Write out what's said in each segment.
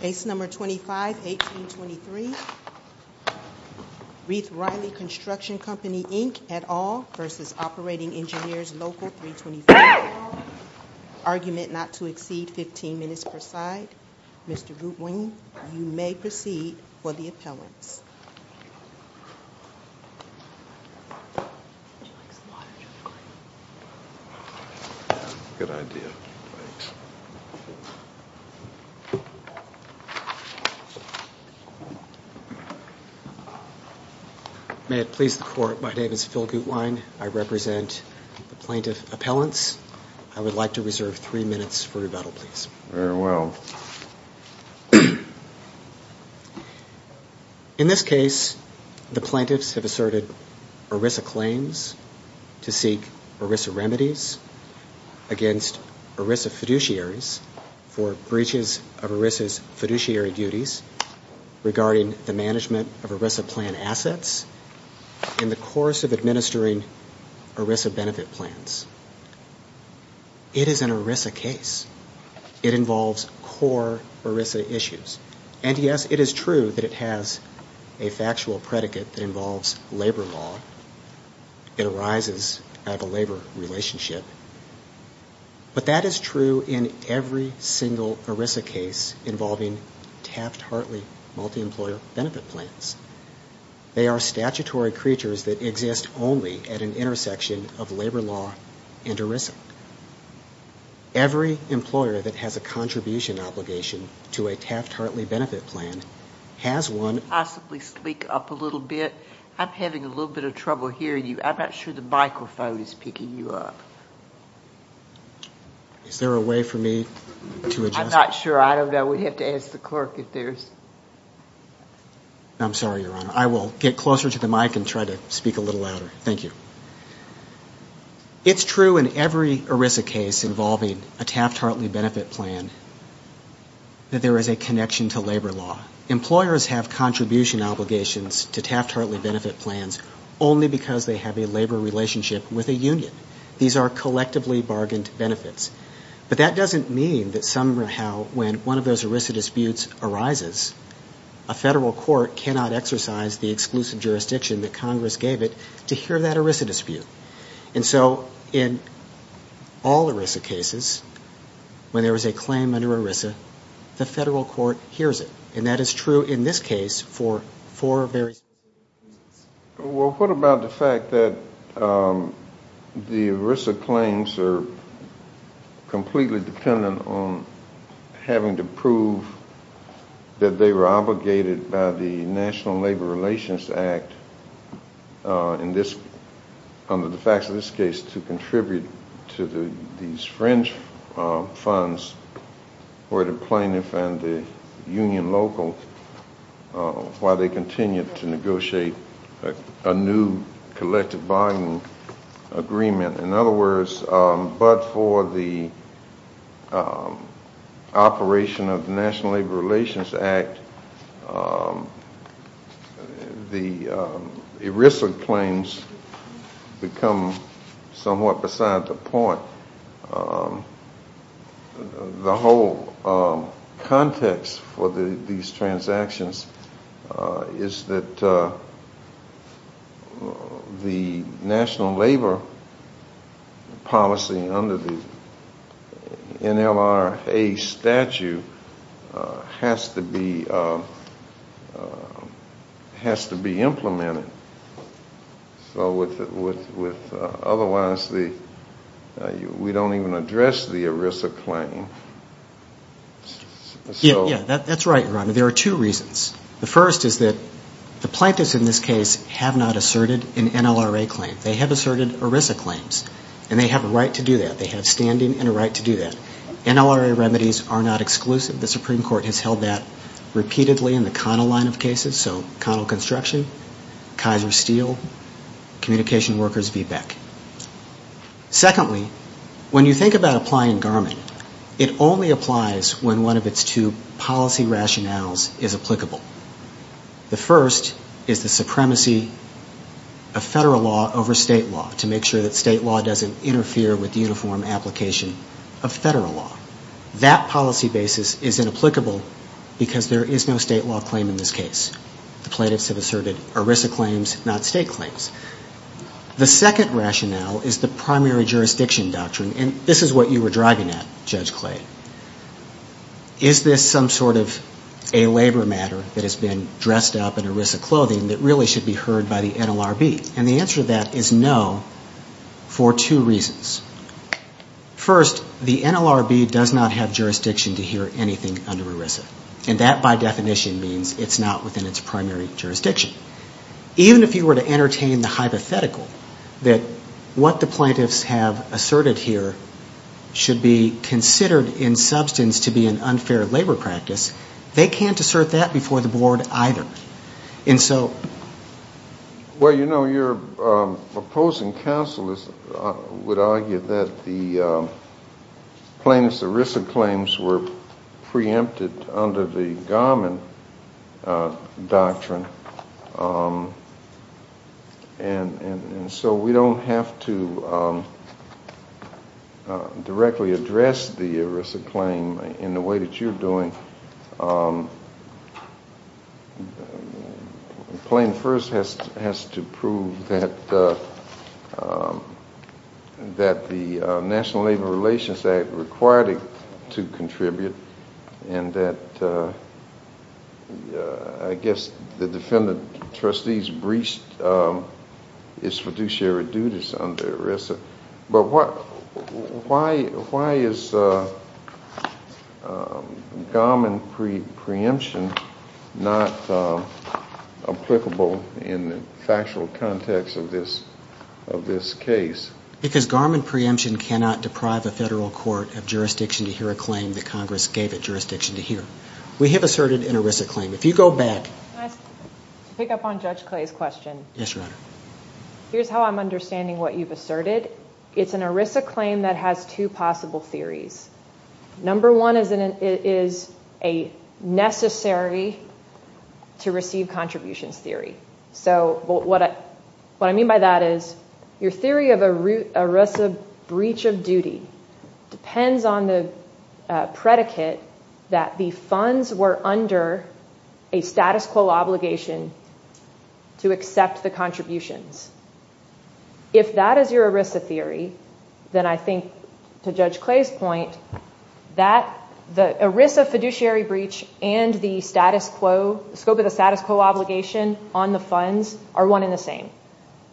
Case No. 25-1823 Rieth-Riley Construction Company, Inc. et al. v. Op Eng Local 324 et al. Argument not to exceed 15 minutes per side. Mr. Goodwin, you may proceed for the appellants. May it please the Court, my name is Phil Goodwin. I represent the plaintiff appellants. I would like to reserve three minutes for rebuttal, please. Very well. In this case, the plaintiffs have asserted ERISA claims to seek ERISA remedies against ERISA fiduciaries for breaches of ERISA's fiduciary duties regarding the management of ERISA plan assets in the course of administering ERISA benefit plans. It is an ERISA case. It involves core ERISA issues. And yes, it is true that it has a factual predicate that involves labor law. It arises out of a labor relationship. But that is true in every single ERISA case involving Taft-Hartley multi-employer benefit plans. They are statutory creatures that exist only at an intersection of labor law and ERISA. Every employer that has a contribution obligation to a Taft-Hartley benefit plan has one. Can you possibly speak up a little bit? I'm having a little bit of trouble hearing you. I'm not sure the microphone is picking you up. Is there a way for me to adjust? I'm not sure. I don't know. We'd have to ask the clerk if there's... I'm sorry, Your Honor. I will get closer to the mic and try to speak a little louder. Thank you. It's true in every ERISA case involving a Taft-Hartley benefit plan that there is a connection to labor law. Employers have contribution obligations to Taft-Hartley benefit plans only because they have a labor relationship with a union. These are collectively bargained benefits. But that doesn't mean that somehow when one of those ERISA disputes arises, a federal court cannot exercise the exclusive jurisdiction that Congress gave it to hear that ERISA dispute. And so in all ERISA cases, when there is a claim under ERISA, the federal court hears it. And that is true in this case for four very specific reasons. Well, what about the fact that the ERISA claims are completely dependent on having to prove that they were obligated by the National Labor Relations Act under the facts of this case to contribute to these fringe funds for the plaintiff and the union local while they continue to negotiate a new collective bargaining agreement? In other words, but for the operation of the National Labor Relations Act, the ERISA claims become somewhat beside the point. The whole context for these transactions is that the national labor policy under the NLRA statute has to be implemented. So otherwise we don't even address the ERISA claim. Yeah, that's right, Your Honor. There are two reasons. The first is that the plaintiffs in this case have not asserted an NLRA claim. They have asserted ERISA claims, and they have a right to do that. They have standing and a right to do that. NLRA remedies are not exclusive. The Supreme Court has held that repeatedly in the Connell line of cases, so Connell Construction, Kaiser Steel, Communication Workers v. Beck. Secondly, when you think about applying Garmin, it only applies when one of its two policy rationales is applicable. The first is the supremacy of federal law over state law to make sure that state law doesn't interfere with the uniform application of federal law. That policy basis is inapplicable because there is no state law claim in this case. The plaintiffs have asserted ERISA claims, not state claims. The second rationale is the primary jurisdiction doctrine, and this is what you were driving at, Judge Clay. Is this some sort of a labor matter that has been dressed up in ERISA clothing that really should be heard by the NLRB? And the answer to that is no, for two reasons. First, the NLRB does not have jurisdiction to hear anything under ERISA, and that by definition means it's not within its primary jurisdiction. Even if you were to entertain the hypothetical that what the plaintiffs have asserted here should be considered in substance to be an unfair labor practice, they can't assert that before the board either. Well, you know, your opposing counsel would argue that the plaintiffs' ERISA claims were preempted under the Garmin doctrine, and so we don't have to directly address the ERISA claim in the way that you're doing. The claim first has to prove that the National Labor Relations Act required it to contribute, and that, I guess, the defendant trustees breached its fiduciary duties under ERISA. But why is Garmin preemption not applicable in the factual context of this case? Because Garmin preemption cannot deprive a federal court of jurisdiction to hear a claim that Congress gave it jurisdiction to hear. We have asserted an ERISA claim. Can I pick up on Judge Clay's question? Yes, Your Honor. Here's how I'm understanding what you've asserted. It's an ERISA claim that has two possible theories. Number one is a necessary-to-receive-contributions theory. So what I mean by that is your theory of an ERISA breach of duty depends on the predicate that the funds were under a status quo obligation to accept the contributions. If that is your ERISA theory, then I think, to Judge Clay's point, that the ERISA fiduciary breach and the scope of the status quo obligation on the funds are one and the same.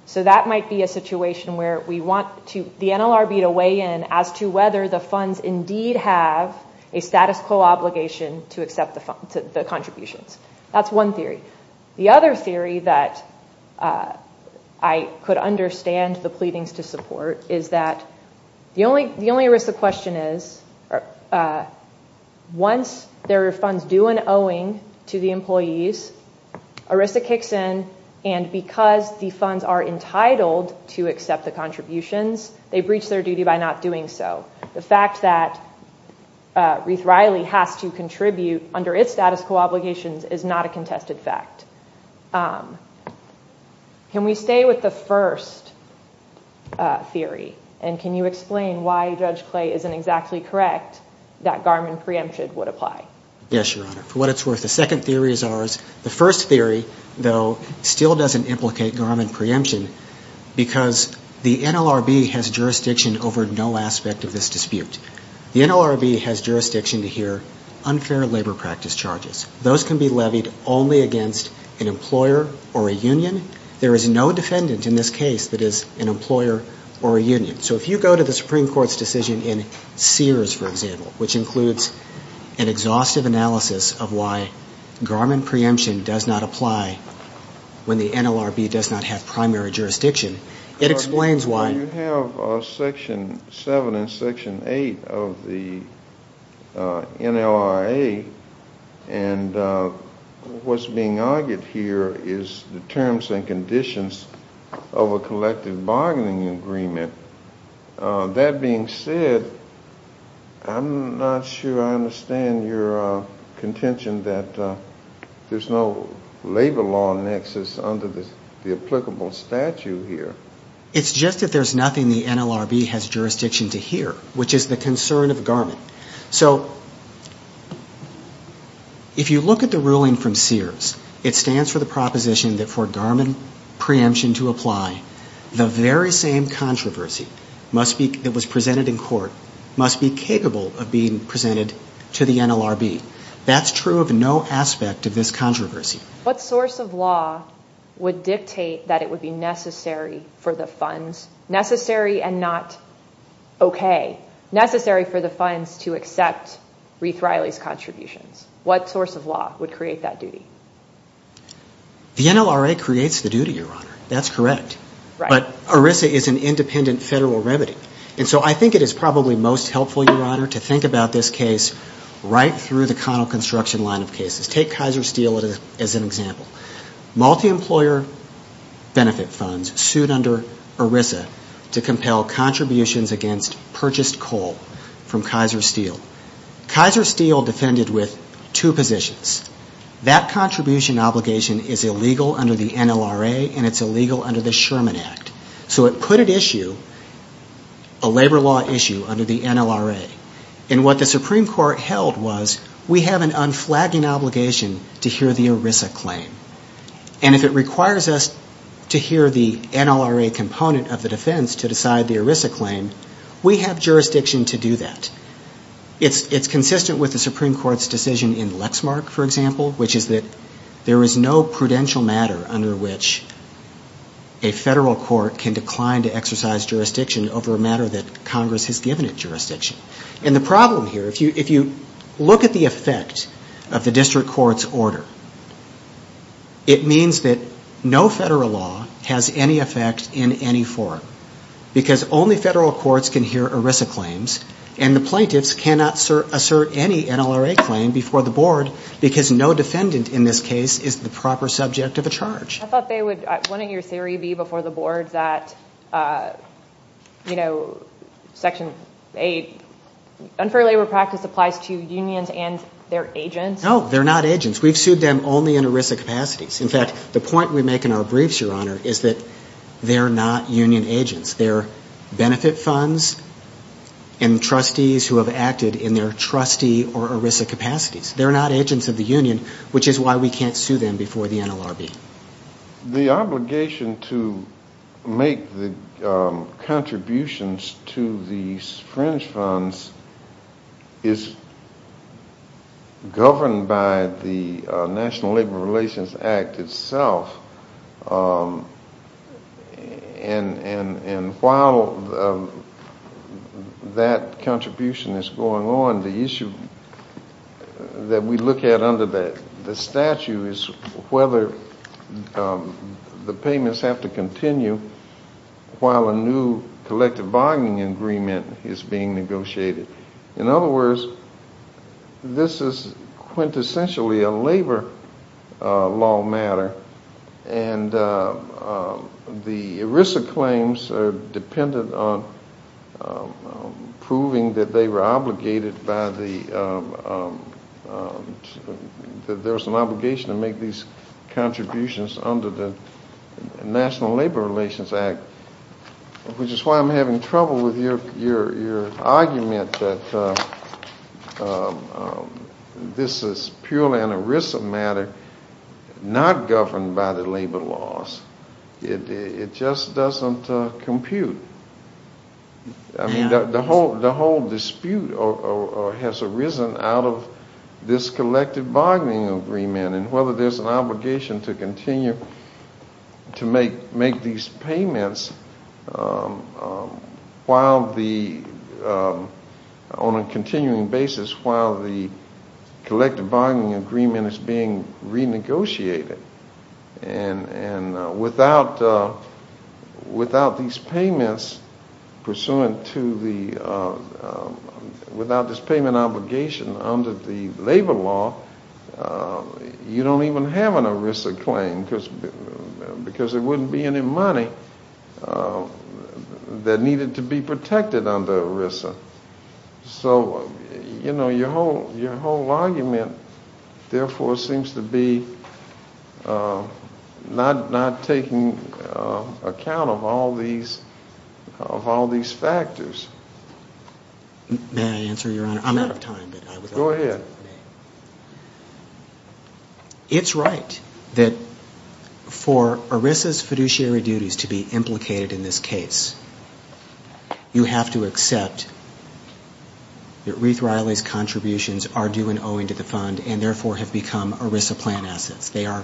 So that might be a situation where we want the NLRB to weigh in as to whether the funds indeed have a status quo obligation to accept the contributions. That's one theory. The other theory that I could understand the pleadings to support is that the only ERISA question is, once there are funds due and owing to the employees, ERISA kicks in, and because the funds are entitled to accept the contributions, they breach their duty by not doing so. The fact that Reith-Riley has to contribute under its status quo obligations is not a contested fact. Can we stay with the first theory, and can you explain why Judge Clay isn't exactly correct that Garmin preemption would apply? Yes, Your Honor. For what it's worth, the second theory is ours. The first theory, though, still doesn't implicate Garmin preemption because the NLRB has jurisdiction over no aspect of this dispute. The NLRB has jurisdiction to hear unfair labor practice charges. Those can be levied only against an employer or a union. There is no defendant in this case that is an employer or a union. So if you go to the Supreme Court's decision in Sears, for example, which includes an exhaustive analysis of why Garmin preemption does not apply when the NLRB does not have primary jurisdiction, it explains why. You have Section 7 and Section 8 of the NLRA, and what's being argued here is the terms and conditions of a collective bargaining agreement. That being said, I'm not sure I understand your contention that there's no labor law nexus under the applicable statute here. It's just that there's nothing the NLRB has jurisdiction to hear, which is the concern of Garmin. So if you look at the ruling from Sears, it stands for the proposition that for Garmin preemption to apply, the very same controversy that was presented in court must be capable of being presented to the NLRB. That's true of no aspect of this controversy. What source of law would dictate that it would be necessary for the funds, necessary and not okay, necessary for the funds to accept Reith Riley's contributions? What source of law would create that duty? The NLRA creates the duty, Your Honor. That's correct. But ERISA is an independent federal remedy. And so I think it is probably most helpful, Your Honor, to think about this case right through the Connell Construction line of cases. Take Kaiser Steel as an example. Multi-employer benefit funds sued under ERISA to compel contributions against purchased coal from Kaiser Steel. Kaiser Steel defended with two positions. That contribution obligation is illegal under the NLRA and it's illegal under the Sherman Act. So it put at issue a labor law issue under the NLRA. And what the Supreme Court held was we have an unflagging obligation to hear the ERISA claim. And if it requires us to hear the NLRA component of the defense to decide the ERISA claim, we have jurisdiction to do that. It's consistent with the Supreme Court's decision in Lexmark, for example, which is that there is no prudential matter under which a federal court can decline to exercise jurisdiction over a matter that Congress has given it jurisdiction. And the problem here, if you look at the effect of the district court's order, it means that no federal law has any effect in any forum. Because only federal courts can hear ERISA claims and the plaintiffs cannot assert any NLRA claim before the board because no defendant in this case is the proper subject of a charge. I thought they would, wouldn't your theory be before the board that, you know, Section 8, unfair labor practice applies to unions and their agents? No, they're not agents. We've sued them only in ERISA capacities. In fact, the point we make in our briefs, Your Honor, is that they're not union agents. They're benefit funds and trustees who have acted in their trustee or ERISA capacities. They're not agents of the union, which is why we can't sue them before the NLRB. The obligation to make the contributions to these fringe funds is governed by the National Labor Relations Act itself. And while that contribution is going on, the issue that we look at under the statute is whether the payments have to continue while a new collective bargaining agreement is being negotiated. In other words, this is quintessentially a labor law matter. And the ERISA claims are dependent on proving that they were obligated by the, that there was an obligation to make these contributions under the National Labor Relations Act, which is why I'm having trouble with your argument that this is purely an ERISA matter not governed by the labor laws. It just doesn't compute. I mean, the whole dispute has arisen out of this collective bargaining agreement and whether there's an obligation to continue to make these payments while the, on a continuing basis, while the collective bargaining agreement is being renegotiated. And without these payments pursuant to the, without this payment obligation under the labor law, you don't even have an ERISA claim because there wouldn't be any money that needed to be protected under ERISA. So, you know, your whole argument, therefore, seems to be not taking account of all these factors. May I answer, Your Honor? I'm out of time. Go ahead. It's right that for ERISA's fiduciary duties to be implicated in this case, you have to accept that Ruth Riley's contributions are due and owing to the fund and, therefore, have become ERISA plan assets. They are,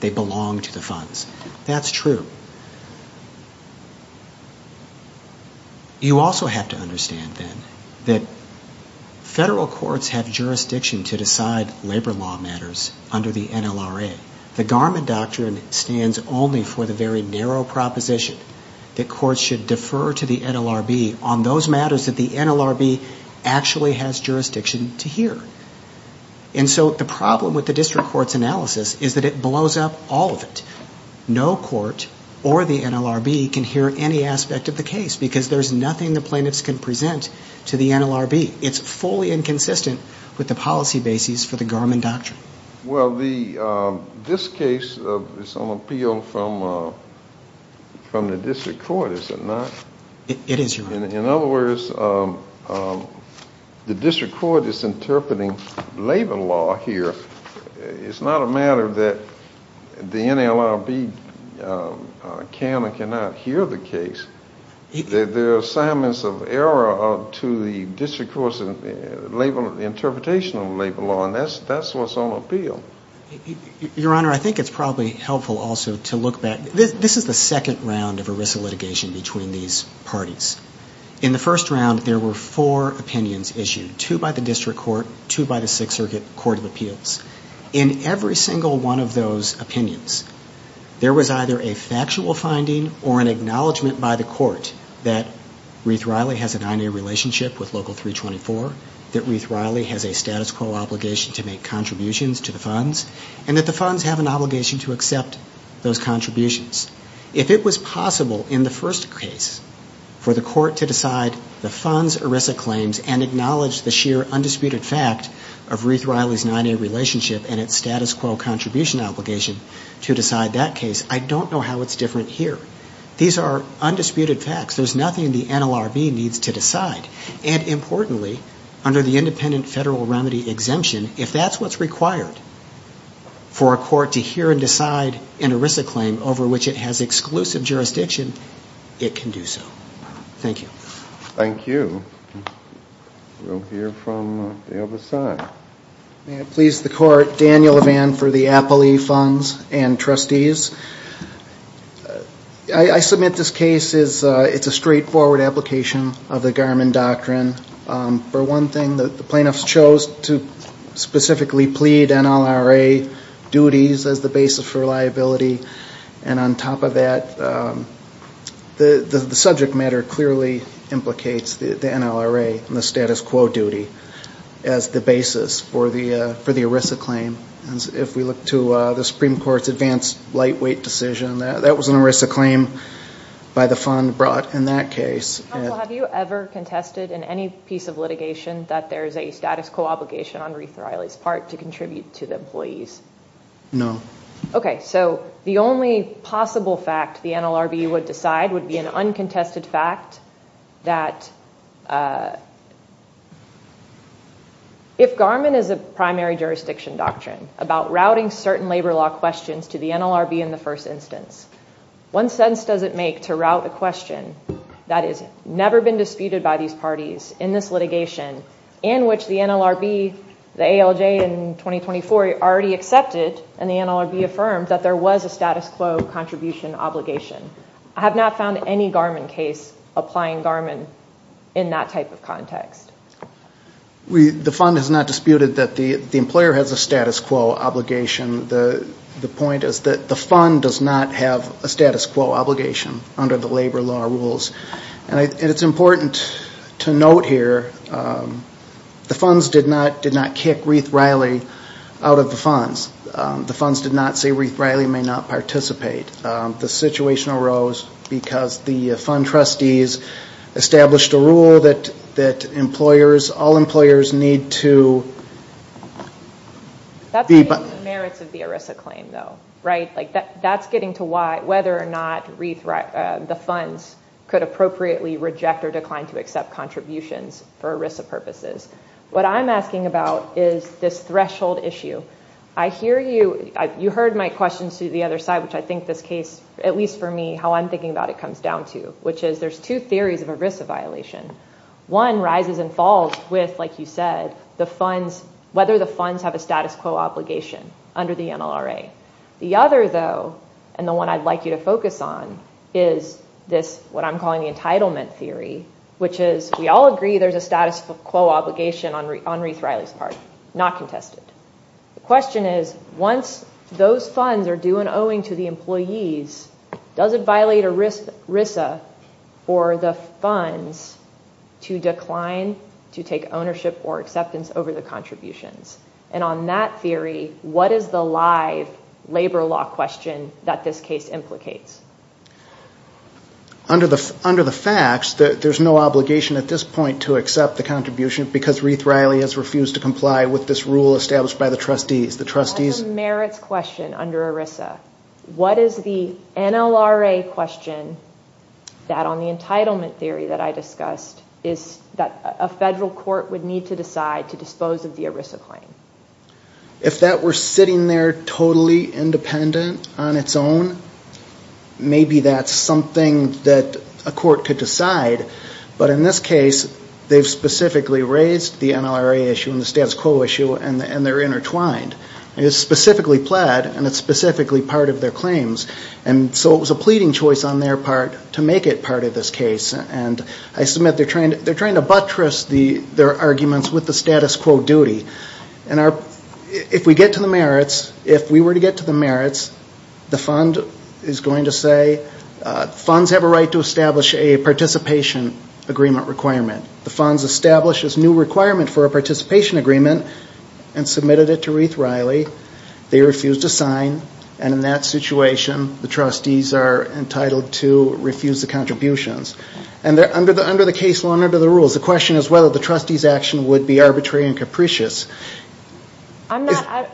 they belong to the funds. That's true. You also have to understand, then, that federal courts have jurisdiction to decide labor law matters under the NLRA. The Garment Doctrine stands only for the very narrow proposition that courts should defer to the NLRB on those matters that the NLRB actually has jurisdiction to hear. And so the problem with the district court's analysis is that it blows up all of it. No court or the NLRB can hear any aspect of the case because there's nothing the plaintiffs can present to the NLRB. It's fully inconsistent with the policy bases for the Garment Doctrine. Well, this case is on appeal from the district court, is it not? It is, Your Honor. In other words, the district court is interpreting labor law here. It's not a matter that the NLRB can or cannot hear the case. There are assignments of error to the district court's interpretation of labor law, and that's what's on appeal. Your Honor, I think it's probably helpful also to look back. This is the second round of ERISA litigation between these parties. In the first round, there were four opinions issued, two by the district court, two by the Sixth Circuit Court of Appeals. In every single one of those opinions, there was either a factual finding or an acknowledgement by the court that Reith Riley has a 9A relationship with Local 324, that Reith Riley has a status quo obligation to make contributions to the funds, and that the funds have an obligation to accept those contributions. If it was possible in the first case for the court to decide the funds ERISA claims and acknowledge the sheer undisputed fact of Reith Riley's 9A relationship and its status quo contribution obligation to decide that case, I don't know how it's different here. These are undisputed facts. There's nothing the NLRB needs to decide. And importantly, under the Independent Federal Remedy Exemption, if that's what's required for a court to hear and decide an ERISA claim over which it has exclusive jurisdiction, it can do so. Thank you. Thank you. We'll hear from the other side. May it please the Court. Daniel Levan for the Appley Funds and Trustees. I submit this case is a straightforward application of the Garmon Doctrine. For one thing, the plaintiffs chose to specifically plead NLRA duties as the basis for liability. And on top of that, the subject matter clearly implicates the NLRA and the status quo duty as the basis for the ERISA claim. If we look to the Supreme Court's advanced lightweight decision, that was an ERISA claim by the fund brought in that case. Counsel, have you ever contested in any piece of litigation that there's a status quo obligation on Reith Riley's part to contribute to the employees? No. OK, so the only possible fact the NLRB would decide would be an uncontested fact that if Garmon is a primary jurisdiction doctrine about routing certain labor law questions to the NLRB in the first instance, one sentence does it make to route the question that has never been disputed by these parties in this litigation, in which the NLRB, the ALJ in 2024 already accepted and the NLRB affirmed that there was a status quo contribution obligation. I have not found any Garmon case applying Garmon in that type of context. The fund has not disputed that the employer has a status quo obligation. The point is that the fund does not have a status quo obligation under the labor law rules. And it's important to note here, the funds did not kick Reith Riley out of the funds. The funds did not say Reith Riley may not participate. The situation arose because the fund trustees established a rule that employers, all employers need to be... That's the merits of the ERISA claim, though, right? That's getting to why whether or not the funds could appropriately reject or decline to accept contributions for ERISA purposes. What I'm asking about is this threshold issue. I hear you. You heard my questions to the other side, which I think this case, at least for me, how I'm thinking about it comes down to, which is there's two theories of ERISA violation. One rises and falls with, like you said, whether the funds have a status quo obligation under the NLRA. The other, though, and the one I'd like you to focus on, is this, what I'm calling the entitlement theory, which is we all agree there's a status quo obligation on Reith Riley's part. Not contested. The question is, once those funds are due and owing to the employees, does it violate ERISA for the funds to decline to take ownership or acceptance over the contributions? And on that theory, what is the live labor law question that this case implicates? Under the facts, there's no obligation at this point to accept the contribution because Reith Riley has refused to comply with this rule established by the trustees. That's a merits question under ERISA. What is the NLRA question that on the entitlement theory that I discussed is that a federal court would need to decide to dispose of the ERISA claim? If that were sitting there totally independent on its own, maybe that's something that a court could decide. But in this case, they've specifically raised the NLRA issue and the status quo issue, and they're intertwined. It's specifically pled, and it's specifically part of their claims. And so it was a pleading choice on their part to make it part of this case. And I submit they're trying to buttress their arguments with the status quo duty. And if we get to the merits, if we were to get to the merits, the fund is going to say funds have a right to establish a participation agreement requirement. The funds established this new requirement for a participation agreement and submitted it to Reith Riley. They refused to sign, and in that situation, the trustees are entitled to refuse the contributions. And under the case law and under the rules, the question is whether the trustees' action would be arbitrary and capricious. I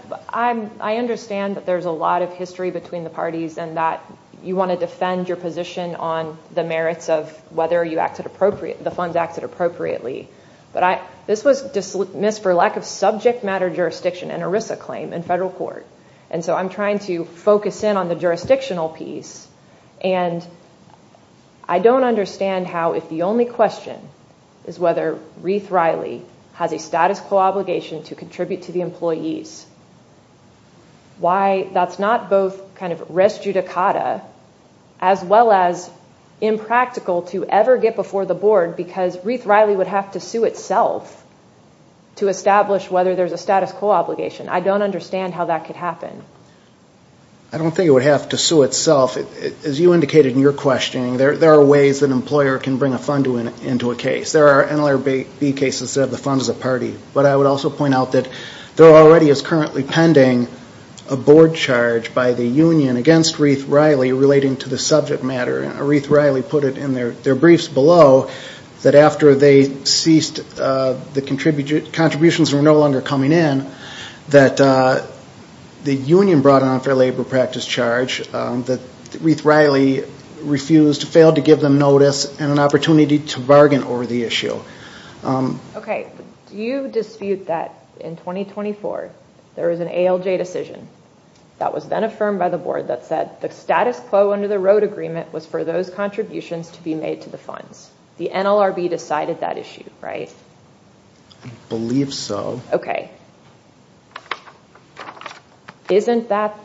understand that there's a lot of history between the parties and that you want to defend your position on the merits of whether the funds acted appropriately. But this was dismissed for lack of subject matter jurisdiction and ERISA claim in federal court. And so I'm trying to focus in on the jurisdictional piece. And I don't understand how if the only question is whether Reith Riley has a status quo obligation to contribute to the employees, why that's not both kind of res judicata as well as impractical to ever get before the board because Reith Riley would have to sue itself to establish whether there's a status quo obligation. I don't understand how that could happen. I don't think it would have to sue itself. As you indicated in your questioning, there are ways an employer can bring a fund into a case. There are NLRB cases that have the fund as a party. But I would also point out that there already is currently pending a board charge by the union against Reith Riley relating to the subject matter. And Reith Riley put it in their briefs below that after they ceased the contributions were no longer coming in, that the union brought an unfair labor practice charge that Reith Riley refused, failed to give them notice, and an opportunity to bargain over the issue. Okay. Do you dispute that in 2024 there is an ALJ decision that was then affirmed by the board that said the status quo under the road agreement was for those contributions to be made to the funds? The NLRB decided that issue, right? I believe so. Okay. Isn't that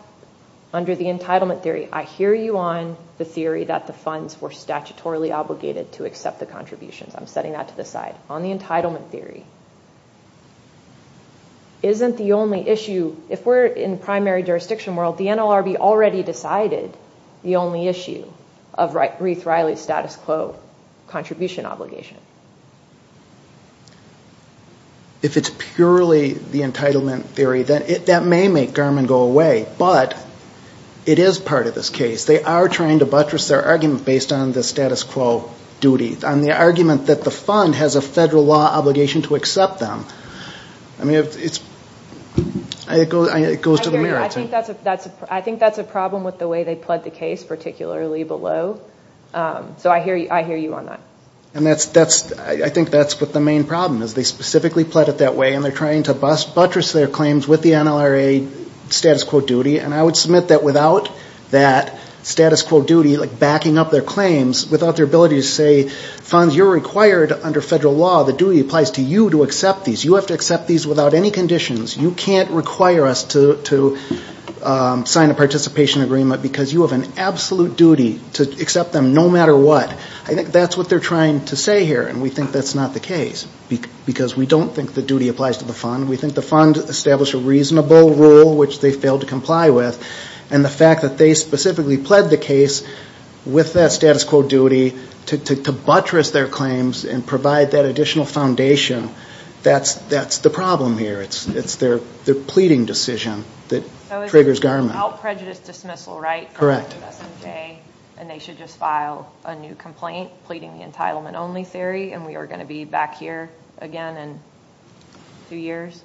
under the entitlement theory? I hear you on the theory that the funds were statutorily obligated to accept the contributions. I'm setting that to the side. On the entitlement theory, isn't the only issue, if we're in primary jurisdiction world, the NLRB already decided the only issue of Reith Riley's status quo contribution obligation. If it's purely the entitlement theory, that may make Garmin go away. But it is part of this case. They are trying to buttress their argument based on the status quo duty. On the argument that the fund has a federal law obligation to accept them. I mean, it goes to the mayor. I think that's a problem with the way they pled the case, particularly below. So I hear you on that. And I think that's what the main problem is. They specifically pled it that way, and they're trying to buttress their claims with the NLRA status quo duty. And I would submit that without that status quo duty backing up their claims, without their ability to say, funds, you're required under federal law. The duty applies to you to accept these. You have to accept these without any conditions. You can't require us to sign a participation agreement because you have an absolute duty to accept them no matter what. I think that's what they're trying to say here. And we think that's not the case. Because we don't think the duty applies to the fund. We think the fund established a reasonable rule, which they failed to comply with. And the fact that they specifically pled the case with that status quo duty to buttress their claims and provide that additional foundation, that's the problem here. It's their pleading decision that triggers garment. So it's without prejudice dismissal, right? Correct. And they should just file a new complaint pleading the entitlement only theory, and we are going to be back here again in two years?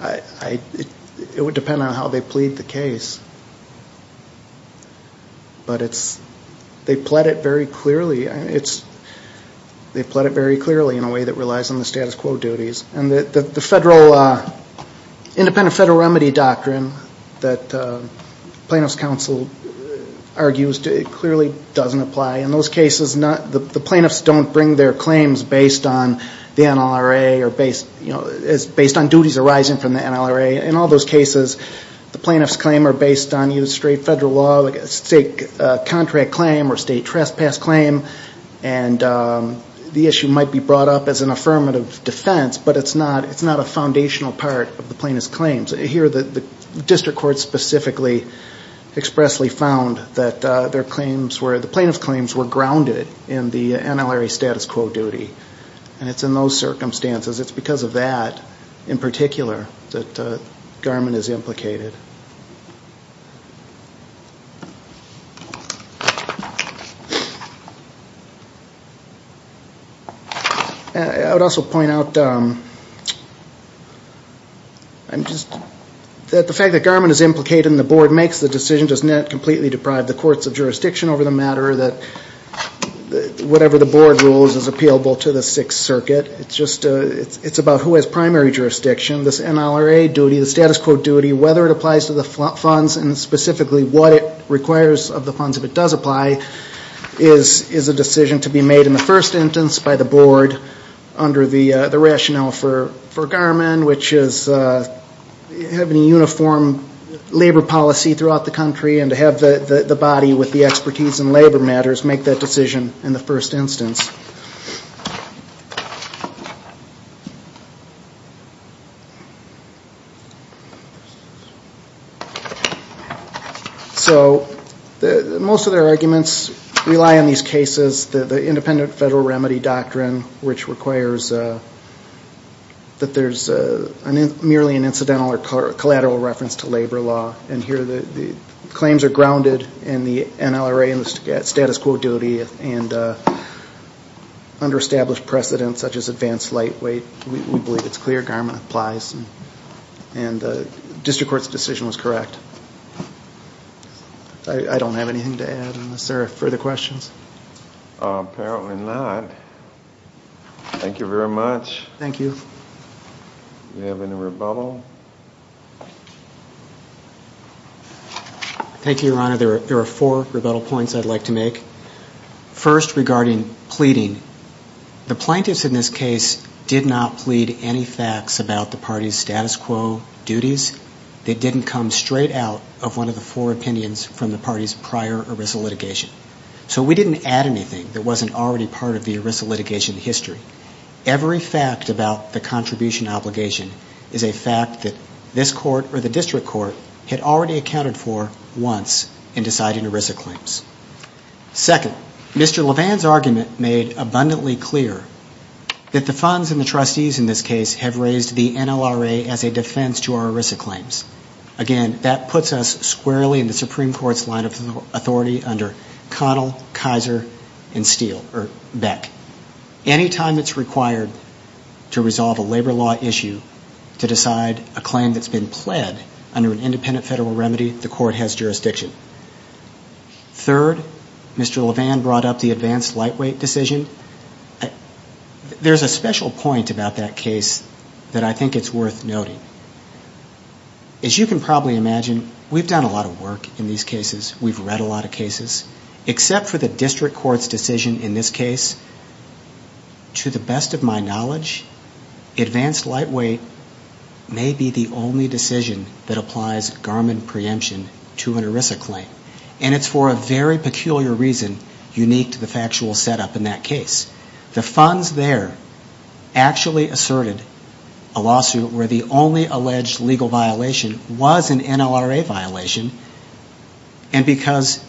It would depend on how they plead the case. But they pled it very clearly. They pled it very clearly in a way that relies on the status quo duties. And the independent federal remedy doctrine that plaintiff's counsel argues clearly doesn't apply. In those cases, the plaintiffs don't bring their claims based on the NLRA or based on duties arising from the NLRA. In all those cases, the plaintiff's claims are based on straight federal law, like a state contract claim or state trespass claim. And the issue might be brought up as an affirmative defense, but it's not a foundational part of the plaintiff's claims. Here the district court specifically expressly found that the plaintiff's claims were grounded in the NLRA status quo duty. And it's in those circumstances, it's because of that in particular, that garment is implicated. I would also point out that the fact that garment is implicated and the board makes the decision does not completely deprive the courts of jurisdiction over the matter, that whatever the board rules is appealable to the Sixth Circuit. It's about who has primary jurisdiction. This NLRA duty, the status quo duty, whether it applies to the funds and specifically what it requires of the funds if it does apply, is a decision to be made in the first instance by the board under the rationale for garment, which is having a uniform labor policy throughout the country and to have the body with the expertise in labor matters make that decision in the first instance. So most of their arguments rely on these cases, the independent federal remedy doctrine, which requires that there's merely an incidental or collateral reference to labor law. And here the claims are grounded in the NLRA status quo duty and under established precedents such as advanced light weight. We believe it's clear garment applies and the district court's decision was correct. I don't have anything to add unless there are further questions. Apparently not. Thank you very much. Thank you. Do we have any rebuttal? Thank you, Your Honor. There are four rebuttal points I'd like to make. First, regarding pleading. The plaintiffs in this case did not plead any facts about the party's status quo duties. They didn't come straight out of one of the four opinions from the party's prior ERISA litigation. So we didn't add anything that wasn't already part of the ERISA litigation history. Every fact about the contribution obligation is a fact that this court or the district court had already accounted for once in deciding ERISA claims. Second, Mr. Levin's argument made abundantly clear that the funds and the trustees in this case have raised the NLRA as a defense to our ERISA claims. Again, that puts us squarely in the Supreme Court's line of authority under Connell, Kaiser, and Steele, or Beck. Any time it's required to resolve a labor law issue to decide a claim that's been pled under an independent federal remedy, the court has jurisdiction. Third, Mr. Levin brought up the advanced lightweight decision. There's a special point about that case that I think it's worth noting. As you can probably imagine, we've done a lot of work in these cases. We've read a lot of cases. Except for the district court's decision in this case, to the best of my knowledge, advanced lightweight may be the only decision that applies Garmin preemption to an ERISA claim. And it's for a very peculiar reason, unique to the factual setup in that case. The funds there actually asserted a lawsuit where the only alleged legal violation was an NLRA violation. And because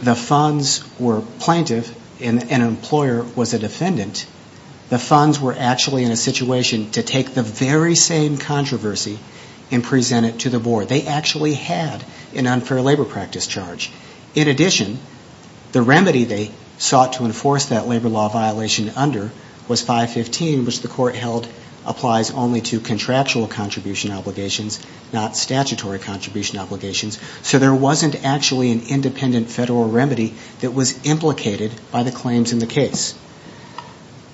the funds were plaintiff and an employer was a defendant, the funds were actually in a situation to take the very same controversy and present it to the board. They actually had an unfair labor practice charge. In addition, the remedy they sought to enforce that labor law violation under was 515, which the court held applies only to contractual contribution obligations, not statutory contribution obligations. So there wasn't actually an independent federal remedy that was implicated by the claims in the case.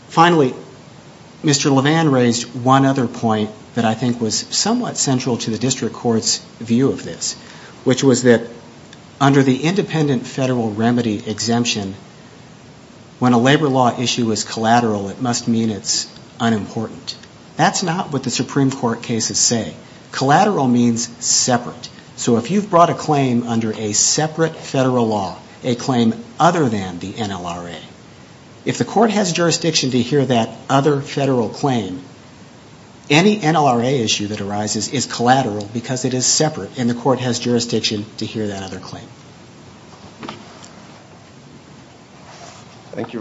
Finally, Mr. Levan raised one other point that I think was somewhat central to the district court's view of this, which was that under the independent federal remedy exemption, when a labor law issue is collateral, it must mean it's unimportant. That's not what the Supreme Court cases say. Collateral means separate. So if you've brought a claim under a separate federal law, a claim other than the NLRA, if the court has jurisdiction to hear that other federal claim, any NLRA issue that arises is collateral because it is separate and the court has jurisdiction to hear that other claim. Thank you very much.